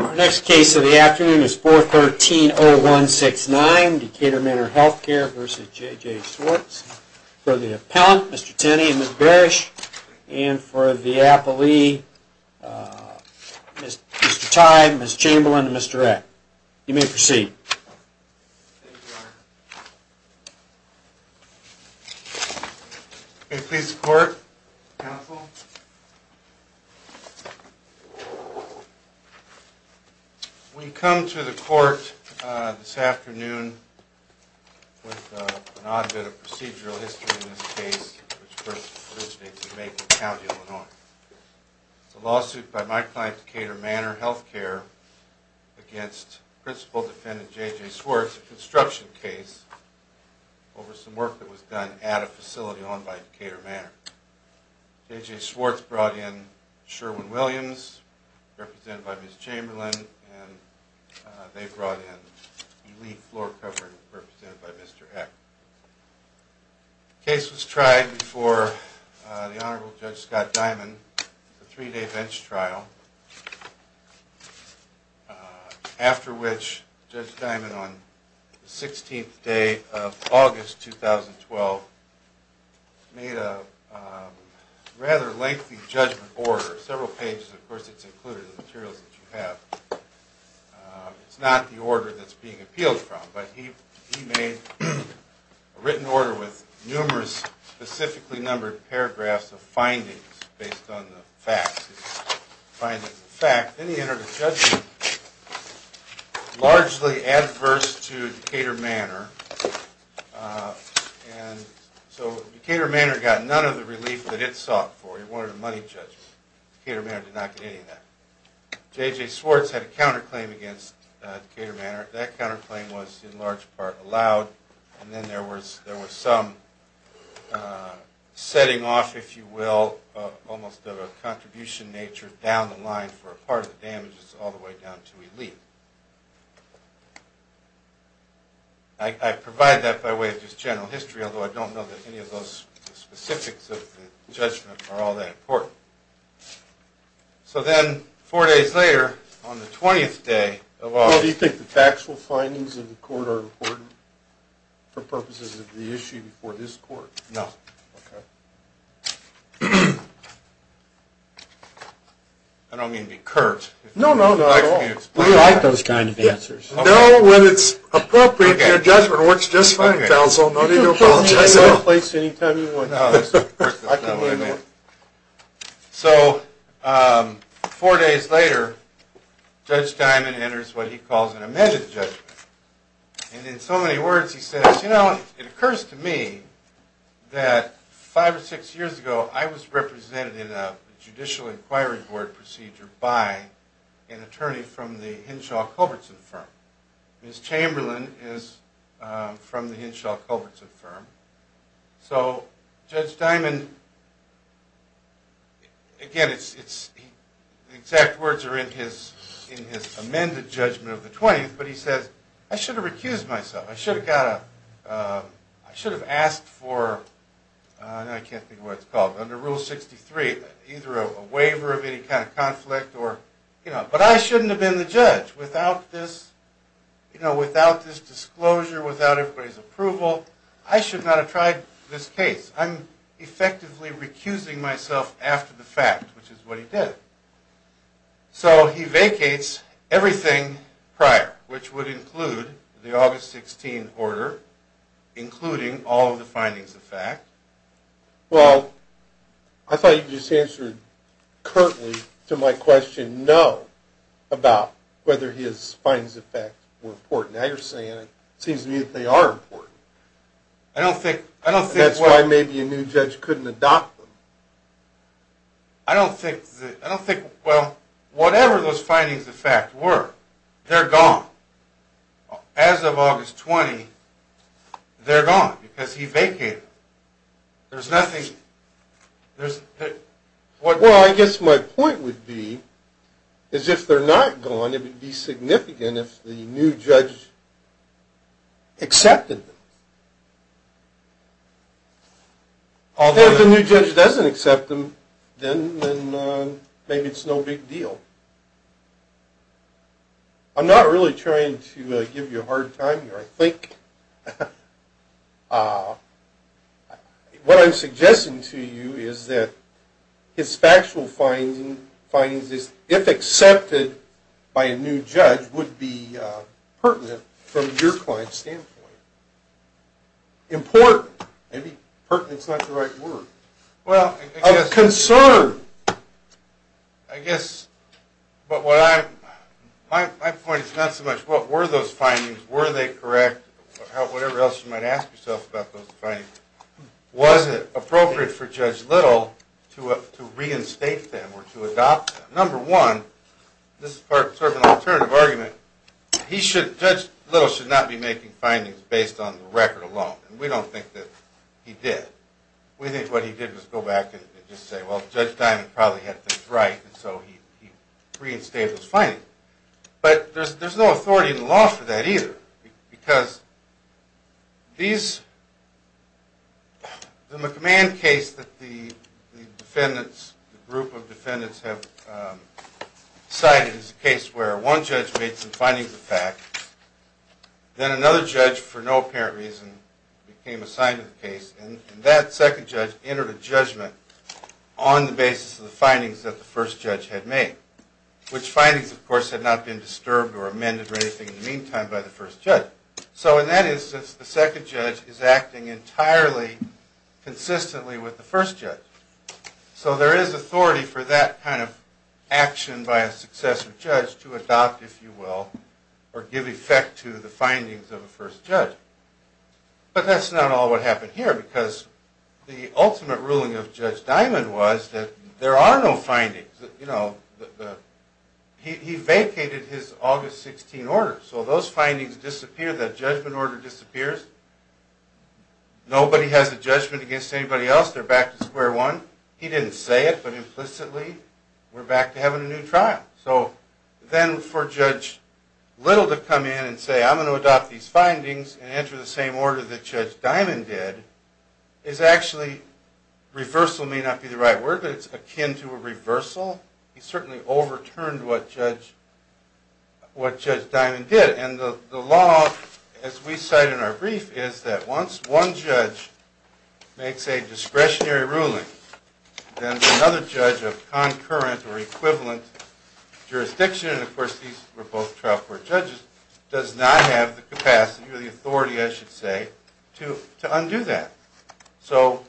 Our next case of the afternoon is 413-0169 Decatur Manor Healthcare v. J.J. Swartz for the appellant, Mr. Tenney and Ms. Barish, and for the appellee, Mr. Tye, Ms. Chamberlain, and Mr. Eck. You may proceed. Thank you, Your Honor. May it please the court, counsel. We come to the court this afternoon with an odd bit of procedural history in this case, which first originates in Macon County, Illinois. It's a lawsuit by my client, Decatur Manor Healthcare, against Principal Defendant J.J. Swartz, a construction case over some work that was done at a facility owned by Decatur Manor. J.J. Swartz brought in Sherwin-Williams, represented by Ms. Chamberlain, and they brought in a lead floor cover, represented by Mr. Eck. The case was tried before the Honorable Judge Scott Diamond for a three-day bench trial, after which Judge Diamond, on the 16th day of August 2012, made a rather lengthy judgment order. Several pages, of course, it's included in the materials that you have. It's not the order that's being appealed from, but he made a written order with numerous specifically numbered paragraphs of findings based on the facts. Then he entered a judgment, largely adverse to Decatur Manor. Decatur Manor got none of the relief that it sought for. It wanted a money judgment. Decatur Manor did not get any of that. J.J. Swartz had a counterclaim against Decatur Manor. That counterclaim was, in large part, allowed, and then there was some setting off, if you will, almost of a contribution nature down the line for a part of the damages all the way down to relief. I provide that by way of just general history, although I don't know that any of those specifics of the judgment are all that important. So then, four days later, on the 20th day of August... Well, do you think the factual findings of the court are important for purposes of the issue before this court? No. Okay. I don't mean to be curt. No, no, not at all. I'd like for you to explain that. We like those kind of answers. No, when it's appropriate, your judgment works just fine, counsel. No need to apologize at all. No, that's not what I meant. So, four days later, Judge Diamond enters what he calls an amended judgment. And in so many words, he says, you know, it occurs to me that five or six years ago, I was represented in a Judicial Inquiry Board procedure by an attorney from the Henshaw Culbertson firm. Ms. Chamberlain is from the Henshaw Culbertson firm. So, Judge Diamond... Again, the exact words are in his amended judgment of the 20th, but he says, I should have recused myself. I should have got a... I should have asked for... I can't think of what it's called. Under Rule 63, either a waiver of any kind of conflict or... But I shouldn't have been the judge without this disclosure, without everybody's approval. I should not have tried this case. I'm effectively recusing myself after the fact, which is what he did. So, he vacates everything prior, which would include the August 16 order, including all of the findings of fact. Well, I thought you just answered curtly to my question, no, about whether his findings of fact were important. Now you're saying it seems to me that they are important. I don't think... That's why maybe a new judge couldn't adopt them. I don't think... I don't think... Well, whatever those findings of fact were, they're gone. As of August 20, they're gone, because he vacated them. There's nothing... Well, I guess my point would be, is if they're not gone, it would be significant if the new judge accepted them. If the new judge doesn't accept them, then maybe it's no big deal. I'm not really trying to give you a hard time here. I think what I'm suggesting to you is that his factual findings, if accepted by a new judge, would be pertinent from your client's standpoint. Important. Maybe pertinent's not the right word. Well, I guess... Of concern. I guess... But what I... My point is not so much what were those findings, were they correct, or whatever else you might ask yourself about those findings. Was it appropriate for Judge Little to reinstate them or to adopt them? Number one, this is sort of an alternative argument. He should... Judge Little should not be making findings based on the record alone, and we don't think that he did. We think what he did was go back and just say, well, Judge Diamond probably had things right, and so he reinstated those findings. But there's no authority in the law for that either, because these... The McMahon case that the defendants, the group of defendants have decided is a case where one judge made some findings of fact, then another judge, for no apparent reason, became assigned to the case, and that second judge entered a judgment on the basis of the findings that the first judge had made, which findings, of course, had not been disturbed or amended or anything in the meantime by the first judge. So in that instance, the second judge is acting entirely consistently with the first judge. So there is authority for that kind of action by a successor judge to adopt, if you will, or give effect to the findings of a first judge. But that's not all what happened here, because the ultimate ruling of Judge Diamond was that there are no findings. He vacated his August 16 order, so those findings disappeared, that judgment order disappears. Nobody has a judgment against anybody else. They're back to square one. He didn't say it, but implicitly, we're back to having a new trial. So then for Judge Little to come in and say, I'm going to adopt these findings and enter the same order that Judge Diamond did, is actually... Reversal may not be the right word, but it's akin to a reversal. He certainly overturned what Judge Diamond did. And the law, as we cite in our brief, is that once one judge makes a discretionary ruling, then another judge of concurrent or equivalent jurisdiction, and of course these were both trial court judges, does not have the capacity or the authority, I should say, to undo that. So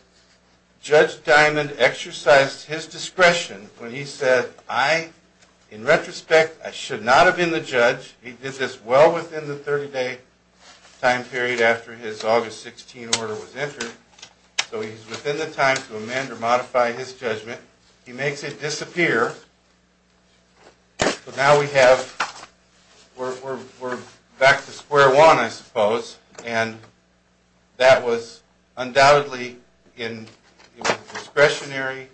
Judge Diamond exercised his discretion when he said, I, in retrospect, I should not have been the judge. He did this well within the 30-day time period after his August 16 order was entered. So he's within the time to amend or modify his judgment. He makes it disappear, but now we have... We're back to square one, I suppose. And that was undoubtedly in discretionary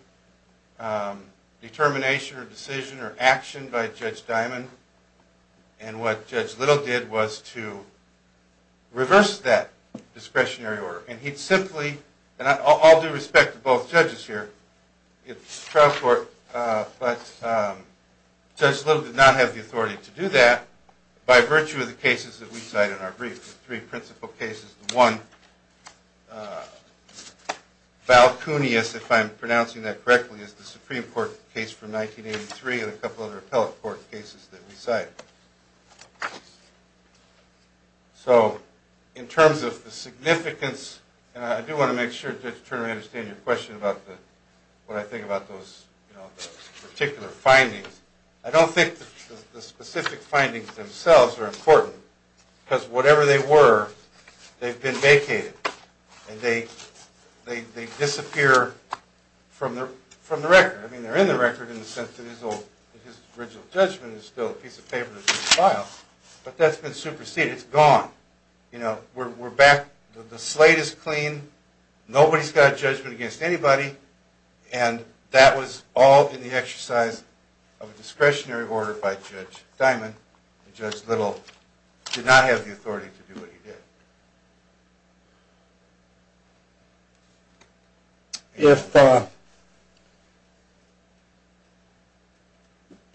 determination or decision or action by Judge Diamond. And what Judge Little did was to reverse that discretionary order. And he'd simply... And I'll do respect to both judges here. It's trial court, but Judge Little did not have the authority to do that, by virtue of the cases that we cite in our brief, the three principal cases. One, Val Kunius, if I'm pronouncing that correctly, is the Supreme Court case from 1983 and a couple other appellate court cases that we cite. So in terms of the significance, and I do want to make sure Judge Turner, I understand your question about what I think about those particular findings. I don't think the specific findings themselves are important, because whatever they were, they've been vacated, and they disappear from the record. I mean, they're in the record in the sense that his original judgment is still a piece of paper that's been filed. But that's been superseded. It's gone. You know, we're back... The slate is clean. Nobody's got a judgment against anybody. And that was all in the exercise of a discretionary order by Judge Diamond. Judge Little did not have the authority to do what he did. If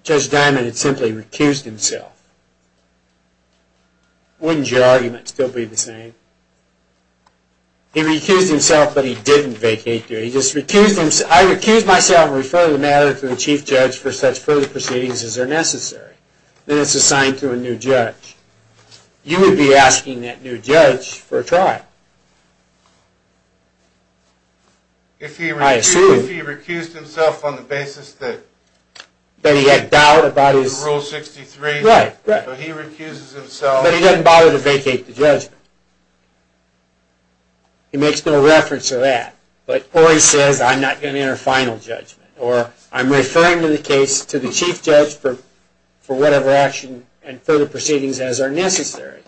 Judge Diamond had simply recused himself, wouldn't your argument still be the same? He recused himself, but he didn't vacate. He just recused himself. I recuse myself and refer the matter to the chief judge for such further proceedings as are necessary. Then it's assigned to a new judge. You would be asking that new judge for a trial. I assume... If he recused himself on the basis that... That he had doubt about his... Rule 63... Right, right. So he recuses himself... But he doesn't bother to vacate the judgment. He makes no reference to that. Or he says, I'm not going to enter final judgment. Or I'm referring to the case to the chief judge for whatever action and further proceedings as are necessary.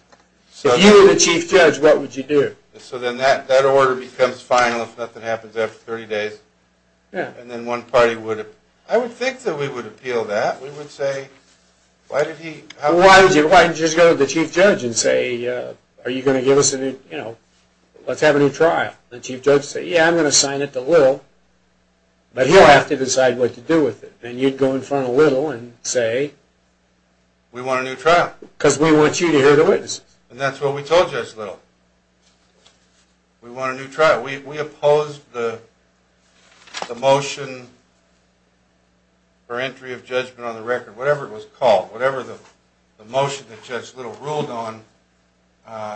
If you were the chief judge, what would you do? So then that order becomes final if nothing happens after 30 days. And then one party would... I would think that we would appeal that. We would say, why did he... Why did you just go to the chief judge and say, are you going to give us a new... Let's have a new trial. And the chief judge would say, yeah, I'm going to assign it to Little. But he'll have to decide what to do with it. And you'd go in front of Little and say... We want a new trial. Because we want you to hear the witnesses. And that's what we told Judge Little. We want a new trial. We opposed the motion... For entry of judgment on the record. Whatever it was called. Whatever the motion that Judge Little ruled on...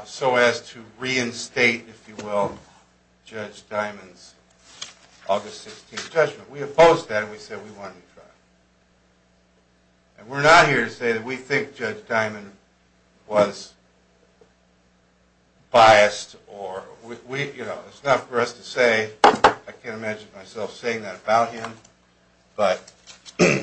So as to reinstate, if you will, Judge Diamond's August 16th judgment. We opposed that and we said we wanted a new trial. And we're not here to say that we think Judge Diamond was biased or... It's not for us to say. I can't imagine myself saying that about him. But he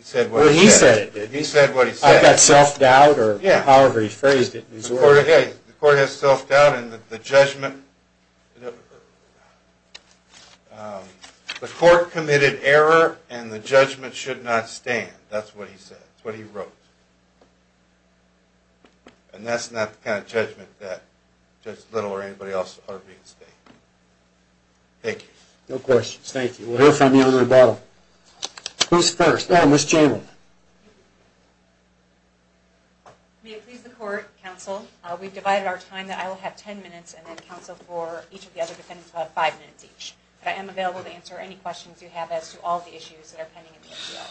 said what he said. He said what he said. I've got self-doubt or however he phrased it. The court has self-doubt and the judgment... The court committed error and the judgment should not stand. That's what he said. That's what he wrote. And that's not the kind of judgment that Judge Little or anybody else ought to be in state. Thank you. No questions. Thank you. We'll hear from you in a little while. Who's first? Oh, Ms. Chamberlain. May it please the court, counsel, we've divided our time. I will have ten minutes and then counsel for each of the other defendants will have five minutes each. But I am available to answer any questions you have as to all the issues that are pending in the appeal.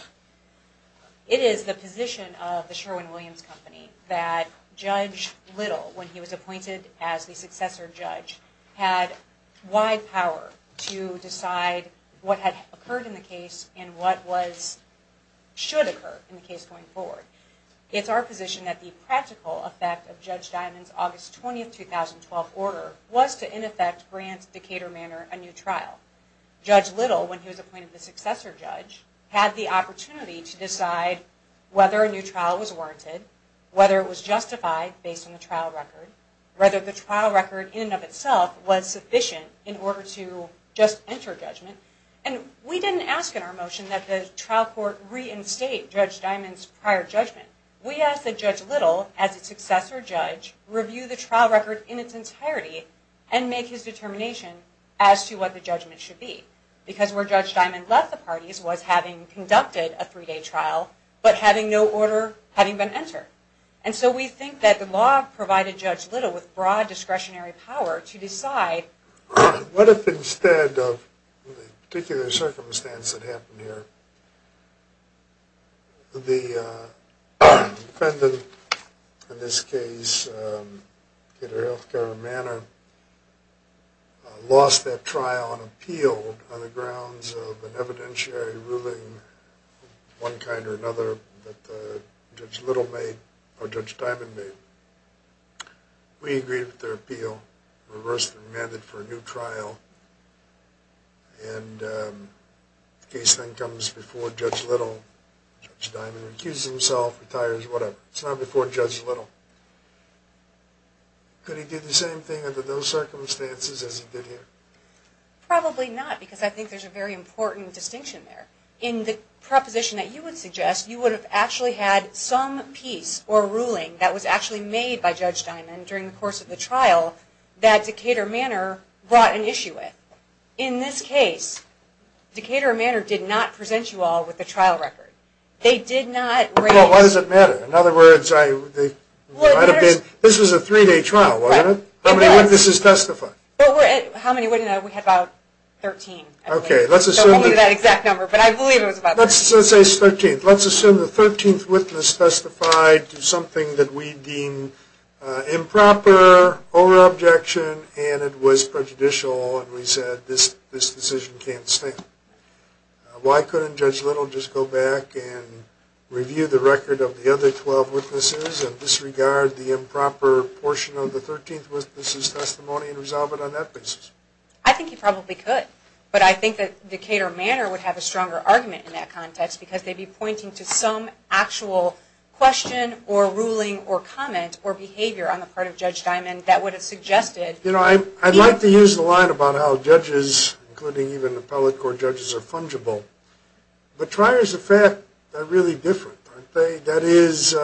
It is the position of the Sherwin-Williams Company that Judge Little, when he was appointed as the successor judge, had wide power to decide what had occurred in the case and what should occur in the case going forward. It's our position that the practical effect of Judge Diamond's August 20, 2012 order was to, in effect, grant Decatur Manor a new trial. Judge Little, when he was appointed the successor judge, had the opportunity to decide whether a new trial was warranted, whether it was justified based on the trial record, whether the trial record in and of itself was sufficient in order to just enter judgment. And we didn't ask in our motion that the trial court reinstate Judge Diamond's prior judgment. We asked that Judge Little, as a successor judge, review the trial record in its entirety and make his determination as to what the judgment should be. Because where Judge Diamond left the parties was having conducted a three-day trial, but having no order having been entered. And so we think that the law provided Judge Little with broad discretionary power to decide. What if instead of the particular circumstance that happened here, the defendant in this case, Decatur Health Care of Manor, lost that trial on appeal on the grounds of an evidentiary ruling of one kind or another that Judge Little made or Judge Diamond made? We agree with their appeal. Reverse the mandate for a new trial. And the case then comes before Judge Little. Judge Diamond recuses himself, retires, whatever. It's not before Judge Little. Could he do the same thing under those circumstances as he did here? Probably not, because I think there's a very important distinction there. In the proposition that you would suggest, you would have actually had some piece or ruling that was actually made by Judge Diamond during the course of the trial that Decatur Manor brought an issue with. In this case, Decatur Manor did not present you all with the trial record. They did not raise the... Well, why does it matter? In other words, this was a three-day trial, wasn't it? How many witnesses testified? How many witnesses? We had about 13, I believe. Only that exact number, but I believe it was about 13. Let's say it's 13. Let's assume the 13th witness testified to something that we deem improper or objection, and it was prejudicial, and we said this decision can't stand. Why couldn't Judge Little just go back and review the record of the other 12 witnesses and disregard the improper portion of the 13th witness's testimony and resolve it on that basis? I think he probably could. But I think that Decatur Manor would have a stronger argument in that context because they'd be pointing to some actual question or ruling or comment or behavior on the part of Judge Diamond that would have suggested... You know, I'd like to use the line about how judges, including even appellate court judges, are fungible. That is,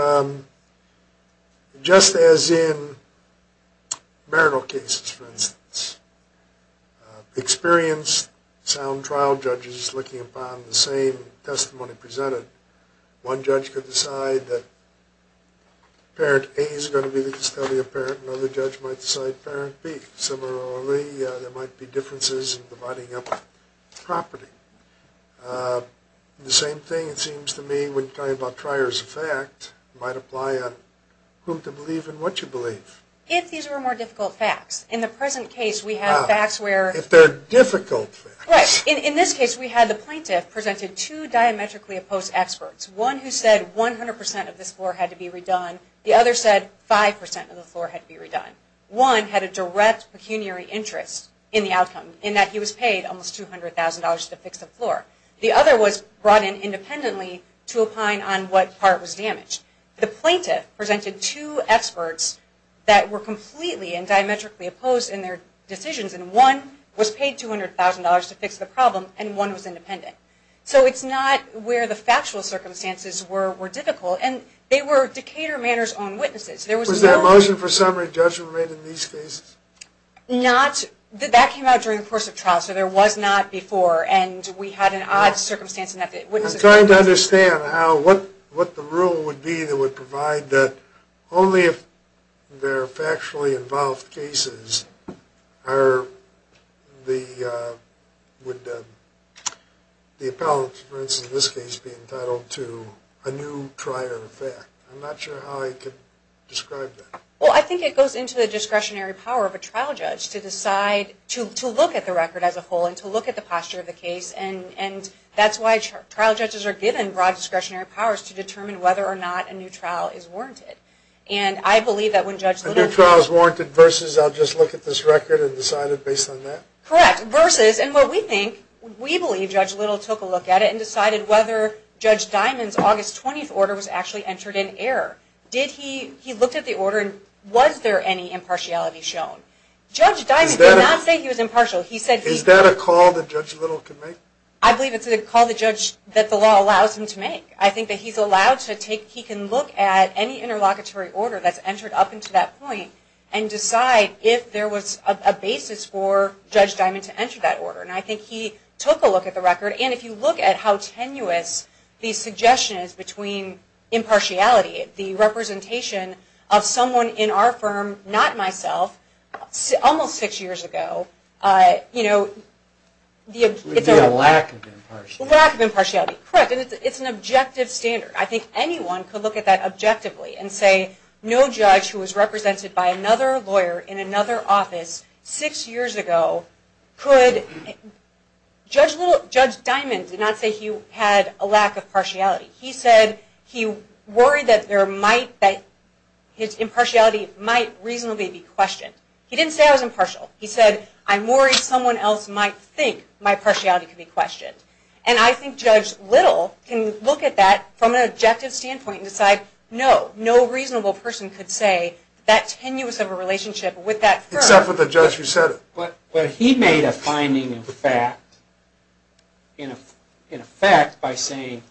just as in marital cases, for instance, experienced, sound trial judges looking upon the same testimony presented. One judge could decide that parent A is going to be the custodial parent and another judge might decide parent B. Similarly, there might be differences in dividing up property. The same thing, it seems to me, when talking about prior as a fact, might apply on whom to believe and what to believe. If these were more difficult facts. In the present case, we have facts where... If they're difficult facts. Right. In this case, we had the plaintiff presented two diametrically opposed experts, one who said 100% of this floor had to be redone, the other said 5% of the floor had to be redone. One had a direct pecuniary interest in the outcome, in that he was paid almost $200,000 to fix the floor. The other was brought in independently to opine on what part was damaged. The plaintiff presented two experts that were completely and diametrically opposed in their decisions, and one was paid $200,000 to fix the problem and one was independent. So it's not where the factual circumstances were difficult, and they were Decatur Manor's own witnesses. Was there a motion for summary judgment made in these cases? That came out during the course of trial, so there was not before, and we had an odd circumstance in that... I'm trying to understand what the rule would be that would provide that only if there are factually involved cases would the appellant, for instance in this case, be entitled to a new prior effect. I'm not sure how I could describe that. Well, I think it goes into the discretionary power of a trial judge to decide to look at the record as a whole and to look at the posture of the case, and that's why trial judges are given broad discretionary powers to determine whether or not a new trial is warranted. And I believe that when Judge Little... A new trial is warranted versus I'll just look at this record and decide it based on that? Correct. Versus. And what we think, we believe Judge Little took a look at it and decided whether Judge Diamond's August 20th order was actually entered in error. He looked at the order and was there any impartiality shown? Judge Diamond did not say he was impartial. Is that a call that Judge Little can make? I believe it's a call that the law allows him to make. I think that he's allowed to take... He can look at any interlocutory order that's entered up into that point and decide if there was a basis for Judge Diamond to enter that order. And I think he took a look at the record, and if you look at how tenuous the suggestion is between impartiality, the representation of someone in our firm, not myself, almost six years ago, you know... It would be a lack of impartiality. Lack of impartiality. Correct. And it's an objective standard. I think anyone could look at that objectively and say, no judge who was represented by another lawyer in another office six years ago could... Judge Diamond did not say he had a lack of partiality. He said he worried that his impartiality might reasonably be questioned. He didn't say I was impartial. He said, I'm worried someone else might think my partiality could be questioned. And I think Judge Little can look at that from an objective standpoint and decide, no, no reasonable person could say that tenuous of a relationship with that firm... Except for the judge who said it. But he made a finding of fact by saying,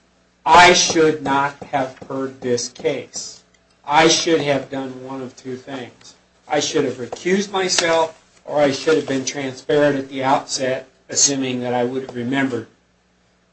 I should not have heard this case. I should have done one of two things. I should have recused myself, or I should have been transparent at the outset, assuming that I would have remembered.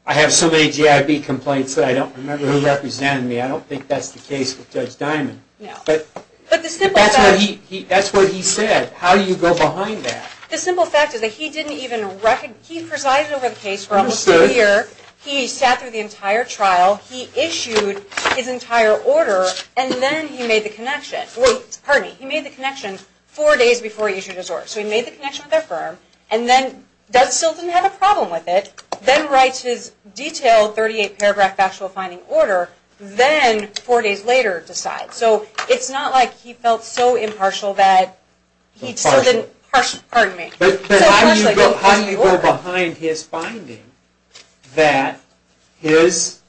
I have so many GIB complaints that I don't remember who represented me. I don't think that's the case with Judge Diamond. But that's what he said. How do you go behind that? The simple fact is that he presided over the case for almost a year. He sat through the entire trial. He issued his entire order, and then he made the connection. Wait, pardon me. He made the connection four days before he issued his order. So he made the connection with that firm, and then still didn't have a problem with it, then writes his detailed 38-paragraph factual finding order, then four days later decides. So it's not like he felt so impartial that he still didn't... Pardon me. But how do you go behind his finding that his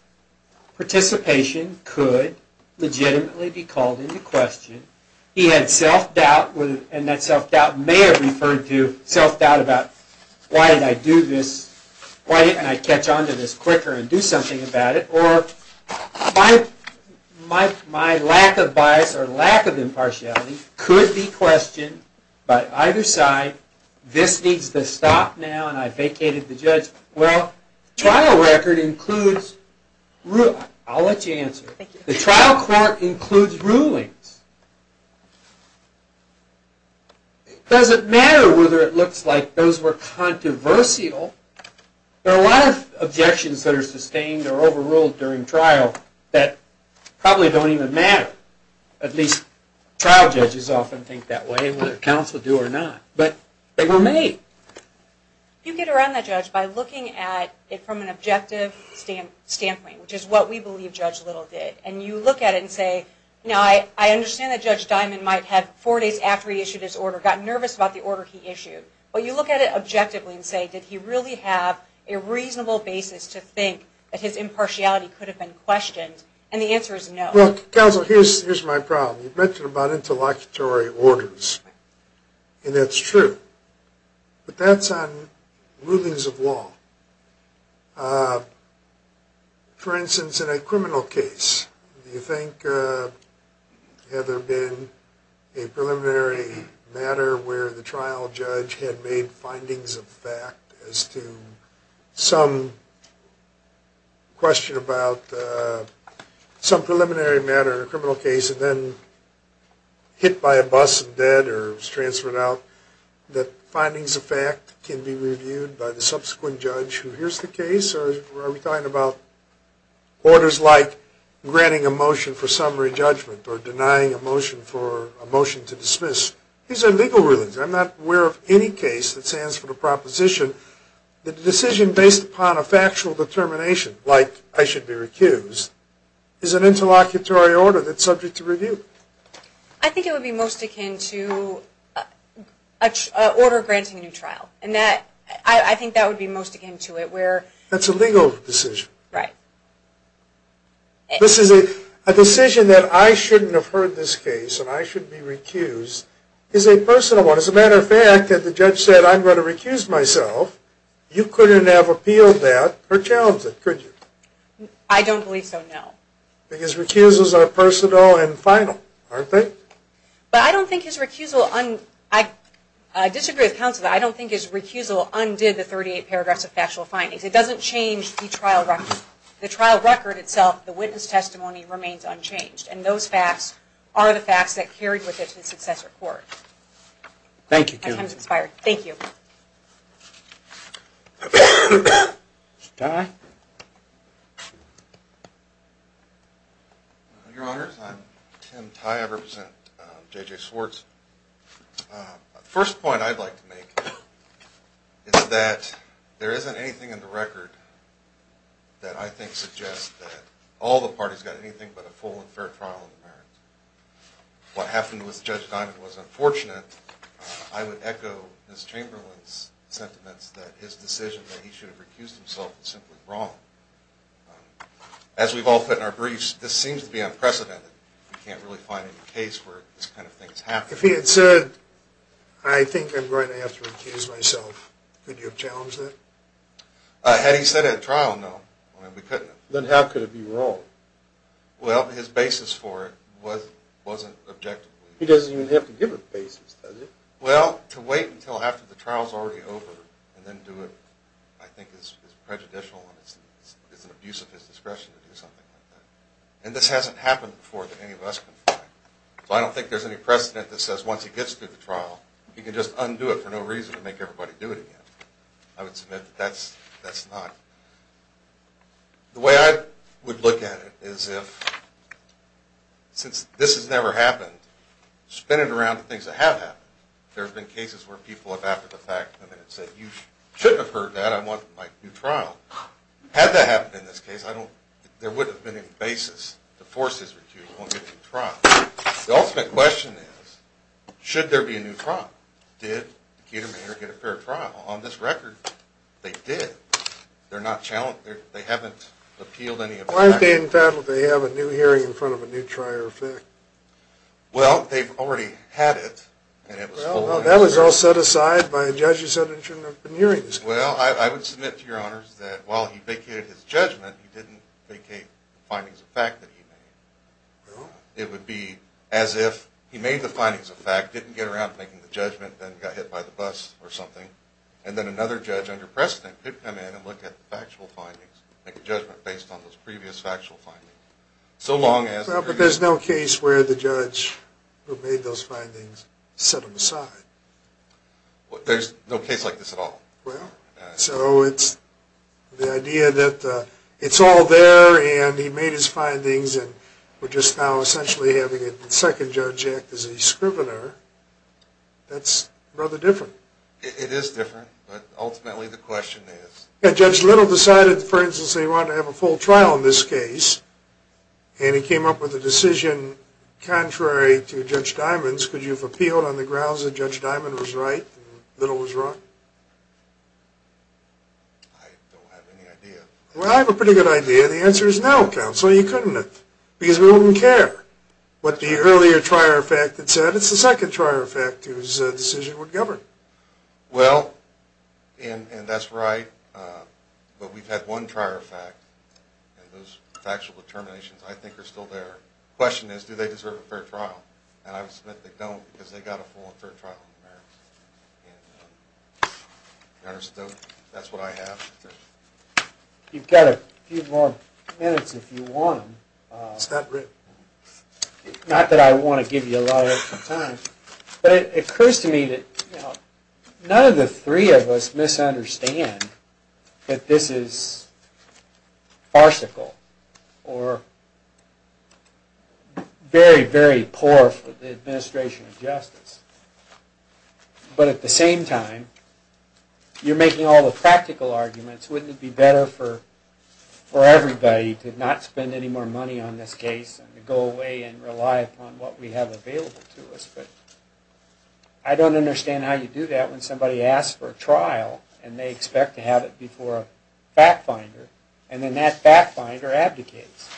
participation could legitimately be called into question? He had self-doubt, and that self-doubt may have referred to self-doubt about, why didn't I do this? Why didn't I catch on to this quicker and do something about it? Or my lack of bias or lack of impartiality could be questioned by either side. This needs to stop now, and I vacated the judge. Well, the trial record includes... I'll let you answer. The trial court includes rulings. It doesn't matter whether it looks like those were controversial. There are a lot of objections that are sustained or overruled during trial that probably don't even matter. At least trial judges often think that way, whether counsel do or not. But they were made. You get around that, Judge, by looking at it from an objective standpoint, which is what we believe Judge Little did. And you look at it and say, I understand that Judge Diamond might have, four days after he issued his order, gotten nervous about the order he issued. But you look at it objectively and say, did he really have a reasonable basis to think that his impartiality could have been questioned? And the answer is no. Look, counsel, here's my problem. You've mentioned about interlocutory orders, and that's true. But that's on rulings of law. For instance, in a criminal case, do you think had there been a preliminary matter where the trial judge had made findings of fact as to some question about some preliminary matter in a criminal case and then hit by a bus and dead or was transferred out, that findings of fact can be reviewed by the subsequent judge who hears the case? Or are we talking about orders like granting a motion for summary judgment or denying a motion for a motion to dismiss? These are legal rulings. I'm not aware of any case that stands for the proposition that a decision based upon a factual determination, like I should be recused, is an interlocutory order that's subject to review. I think it would be most akin to an order granting a new trial. I think that would be most akin to it. That's a legal decision. Right. A decision that I shouldn't have heard this case and I should be recused is a personal one. As a matter of fact, if the judge said I'm going to recuse myself, you couldn't have appealed that or challenged it, could you? I don't believe so, no. Because recusals are personal and final, aren't they? But I don't think his recusal, I disagree with counsel, but I don't think his recusal undid the 38 paragraphs of factual findings. It doesn't change the trial record. The trial record itself, the witness testimony, remains unchanged, and those facts are the facts that carried with it to the successor court. Thank you, Kim. Thank you. Ty? Your Honor, I'm Tim Ty. I represent J.J. Swartz. The first point I'd like to make is that there isn't anything in the record that I think suggests that all the parties got anything but a full and fair trial in the marriage. What happened with Judge Diamond was unfortunate. I would echo Ms. Chamberlain's sentiments that his decision that he should have recused himself is simply wrong. As we've all put in our briefs, this seems to be unprecedented. We can't really find a case where this kind of thing is happening. If he had said, I think I'm going to have to recuse myself, could you have challenged it? Had he said at trial, no, we couldn't have. Then how could it be wrong? Well, his basis for it wasn't objective. He doesn't even have to give a basis, does he? Well, to wait until after the trial's already over and then do it, I think is prejudicial and it's an abuse of his discretion to do something like that. And this hasn't happened before that any of us can find. So I don't think there's any precedent that says once he gets through the trial, he can just undo it for no reason and make everybody do it again. I would submit that that's not. The way I would look at it is if, since this has never happened, spin it around to things that have happened. There have been cases where people have, after the fact, come in and said, you shouldn't have heard that, I want my new trial. Had that happened in this case, I don't, there wouldn't have been any basis to force his recuse, he won't get a new trial. The ultimate question is, should there be a new trial? Did Keterman get a fair trial? On this record, they did. They're not challenged, they haven't appealed any of that. Why didn't they have a new hearing in front of a new trial? Well, they've already had it. Well, that was all set aside by a judge who said he shouldn't have been hearing this case. Well, I would submit to your honors that while he vacated his judgment, he didn't vacate the findings of fact that he made. No? It would be as if he made the findings of fact, didn't get around to making the judgment, then got hit by the bus or something, and then another judge under precedent could come in and look at the factual findings, make a judgment based on those previous factual findings. Well, but there's no case where the judge who made those findings set them aside. There's no case like this at all? Well, so it's the idea that it's all there, and he made his findings, and we're just now essentially having a second judge act as a scrivener. That's rather different. It is different, but ultimately the question is... Judge Little decided, for instance, that he wanted to have a full trial in this case, and he came up with a decision contrary to Judge Diamond's, because you've appealed on the grounds that Judge Diamond was right and Little was wrong. I don't have any idea. Well, I have a pretty good idea. The answer is no, counsel. You couldn't have, because we don't even care what the earlier trier fact had said. It's the second trier fact whose decision would govern. Well, and that's right, but we've had one trier fact, and those factual determinations I think are still there. The question is, do they deserve a fair trial? And I would submit they don't, because they got a full and fair trial in America. That's what I have. You've got a few more minutes if you want them. It's not written. Not that I want to give you a lot of extra time, but it occurs to me that none of the three of us misunderstand that this is farcical or very, very poor for the administration of justice. But at the same time, you're making all the practical arguments. Wouldn't it be better for everybody to not spend any more money on this case and to go away and rely upon what we have available to us? But I don't understand how you do that when somebody asks for a trial and they expect to have it before a fact finder, and then that fact finder abdicates.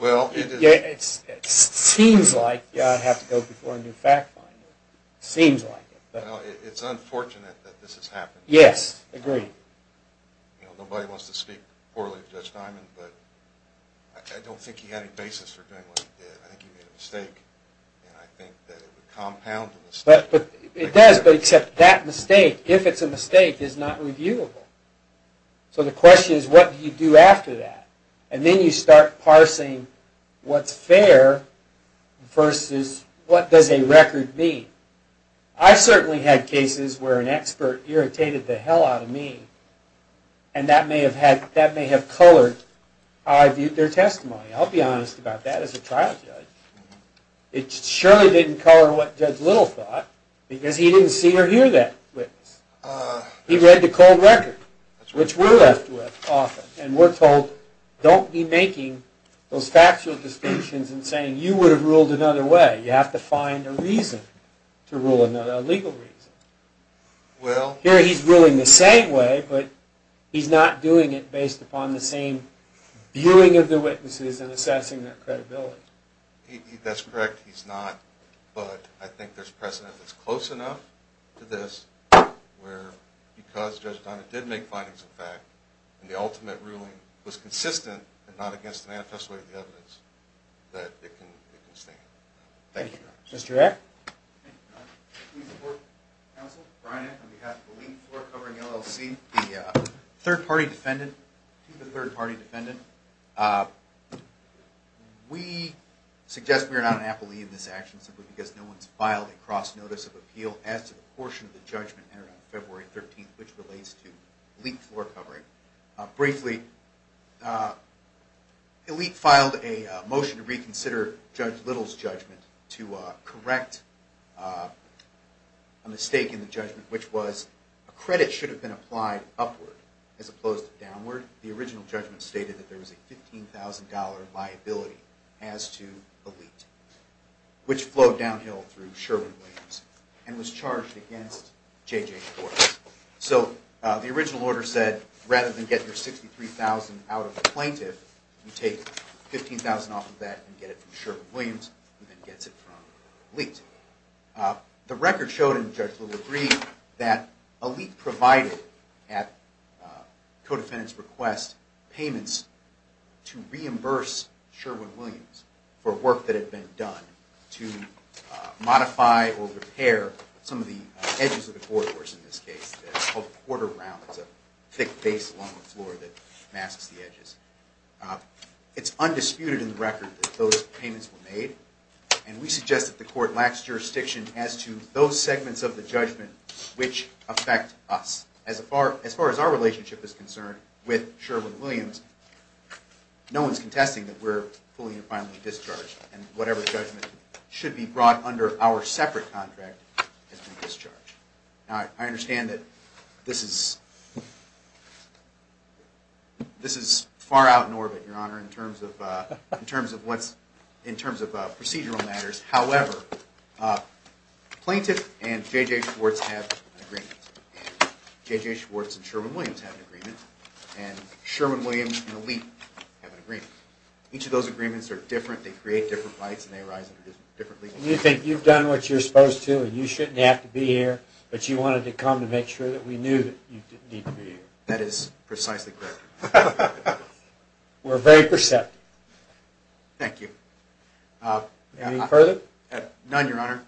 It seems like you have to go before a new fact finder. It seems like it. It's unfortunate that this has happened. Yes, agreed. Nobody wants to speak poorly of Judge Diamond, but I don't think he had any basis for doing what he did. I think he made a mistake, and I think that it would compound the mistake. It does, but except that mistake, if it's a mistake, is not reviewable. So the question is, what do you do after that? And then you start parsing what's fair versus what does a record mean. I've certainly had cases where an expert irritated the hell out of me, and that may have colored how I viewed their testimony. I'll be honest about that as a trial judge. It surely didn't color what Judge Little thought, because he didn't see or hear that witness. He read the cold record, which we're left with often, and we're told, don't be making those factual distinctions and saying you would have ruled another way. You have to find a reason to rule another way, a legal reason. Here he's ruling the same way, but he's not doing it based upon the same viewing of the witnesses and assessing their credibility. That's correct, he's not. But I think there's precedent that's close enough to this where because Judge Diamond did make findings of fact, and the ultimate ruling was consistent and not against the manifesto of the evidence, that it can stand. Thank you very much. Mr. Eck? Please support counsel, Brian Eck, on behalf of the Leak Floor Covering LLC, the third-party defendant, to the third-party defendant. We suggest we are not inappropriate in this action simply because no one's filed a cross-notice of appeal as to the portion of the judgment entered on February 13th which relates to leak floor covering. Briefly, Elite filed a motion to reconsider Judge Little's judgment to correct a mistake in the judgment, which was a credit should have been applied upward as opposed to downward. The original judgment stated that there was a $15,000 liability as to Elite, which flowed downhill through Sherwin Williams and was charged against J.J. Forbes. So the original order said rather than get your $63,000 out of a plaintiff, you take $15,000 off of that and get it from Sherwin Williams, who then gets it from Elite. The record showed in Judge Little's brief that Elite provided at the co-defendant's request payments to reimburse Sherwin Williams for work that had been done to modify or repair some of the edges of the corridors in this case. It's called a quarter round. It's a thick base along the floor that masks the edges. It's undisputed in the record that those payments were made, and we suggest that the court lacks jurisdiction as to those segments of the judgment which affect us. As far as our relationship is concerned with Sherwin Williams, no one's contesting that we're fully and finally discharged, and whatever judgment should be brought under our separate contract has been discharged. Now, I understand that this is far out in orbit, Your Honor, in terms of procedural matters. However, the plaintiff and J.J. Schwartz have an agreement, and J.J. Schwartz and Sherwin Williams have an agreement, and Sherwin Williams and Elite have an agreement. Each of those agreements are different. They create different rights, and they arise differently. You think you've done what you're supposed to, and you shouldn't have to be here, but you wanted to come to make sure that we knew that you didn't need to be here. That is precisely correct. We're very perceptive. Thank you. Any further? None, Your Honor.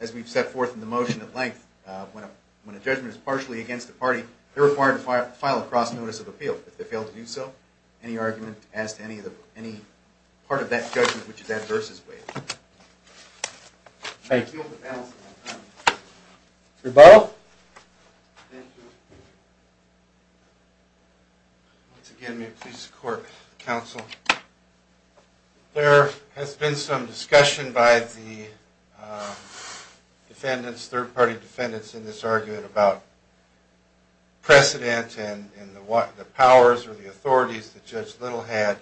As we've set forth in the motion at length, when a judgment is partially against a party, they're required to file a cross-notice of appeal. If they fail to do so, any argument as to any part of that judgment which is adverse is waived. Thank you. Rebuttal? Thank you. Once again, may it please the Court, Counsel, there has been some discussion by the defendants, third-party defendants, in this argument about precedent and the powers or the authorities that Judge Little had.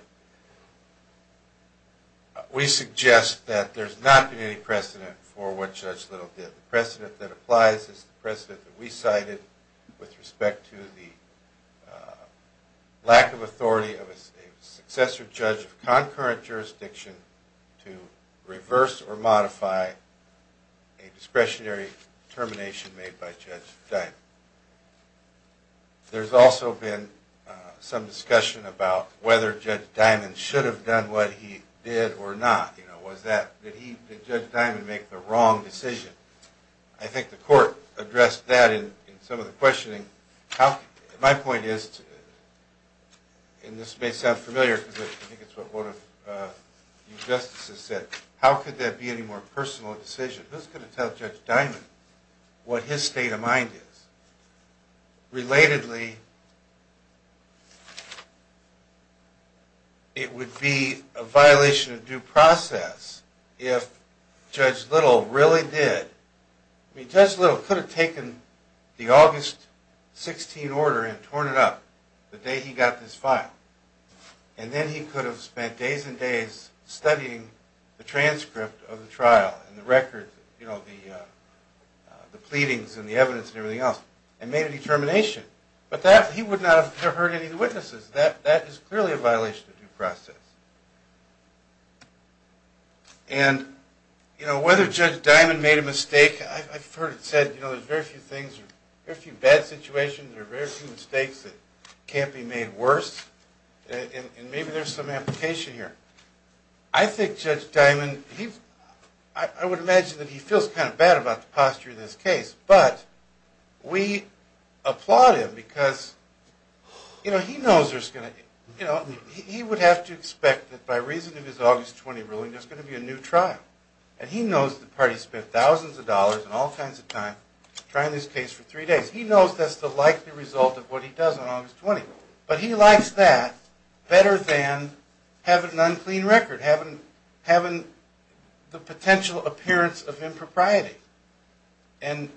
We suggest that there's not been any precedent for what Judge Little did. The precedent that applies is the precedent that we cited with respect to the lack of authority of a successor judge of concurrent jurisdiction to reverse or modify a discretionary termination made by Judge Diamond. There's also been some discussion about whether Judge Diamond should have done what he did or not. Did Judge Diamond make the wrong decision? I think the Court addressed that in some of the questioning. My point is, and this may sound familiar because I think it's what one of you justices said, but how could that be any more personal a decision? Who's going to tell Judge Diamond what his state of mind is? Relatedly, it would be a violation of due process if Judge Little really did. I mean, Judge Little could have taken the August 16 order and torn it up the day he got this file. And then he could have spent days and days studying the transcript of the trial and the records, the pleadings and the evidence and everything else and made a determination. But he would not have heard any of the witnesses. That is clearly a violation of due process. And whether Judge Diamond made a mistake, I've heard it said, you know, there's very few bad situations or very few mistakes that can't be made worse. And maybe there's some application here. I think Judge Diamond, I would imagine that he feels kind of bad about the posture of this case. But we applaud him because, you know, he knows there's going to, you know, he would have to expect that by reason of his August 20 ruling, there's going to be a new trial. And he knows the party spent thousands of dollars and all kinds of time trying this case for three days. He knows that's the likely result of what he does on August 20. But he likes that better than having an unclean record, having the potential appearance of impropriety. And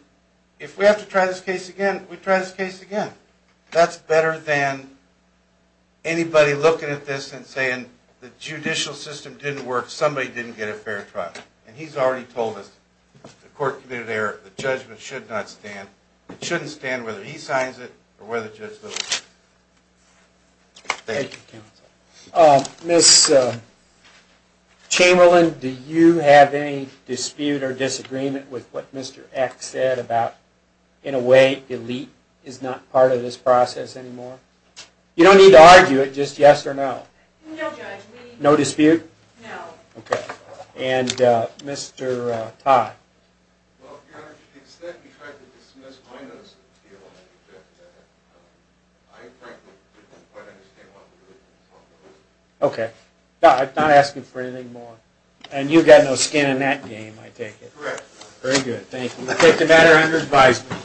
if we have to try this case again, we try this case again. That's better than anybody looking at this and saying the judicial system didn't work, or somebody didn't get a fair trial. And he's already told us the court committed an error. The judgment should not stand. It shouldn't stand whether he signs it or whether Judge Lewis. Thank you, counsel. Ms. Chamberlain, do you have any dispute or disagreement with what Mr. Eck said about, in a way, delete is not part of this process anymore? You don't need to argue it, just yes or no. No, Judge. No dispute? No. Okay. And Mr. Todd? Well, Your Honor, to the extent you tried to dismiss my notion of steal, I object to that. I frankly didn't quite understand what we were talking about. Okay. I'm not asking for anything more. And you've got no skin in that game, I take it. Correct. Very good. Thank you. We'll take the matter under advisory.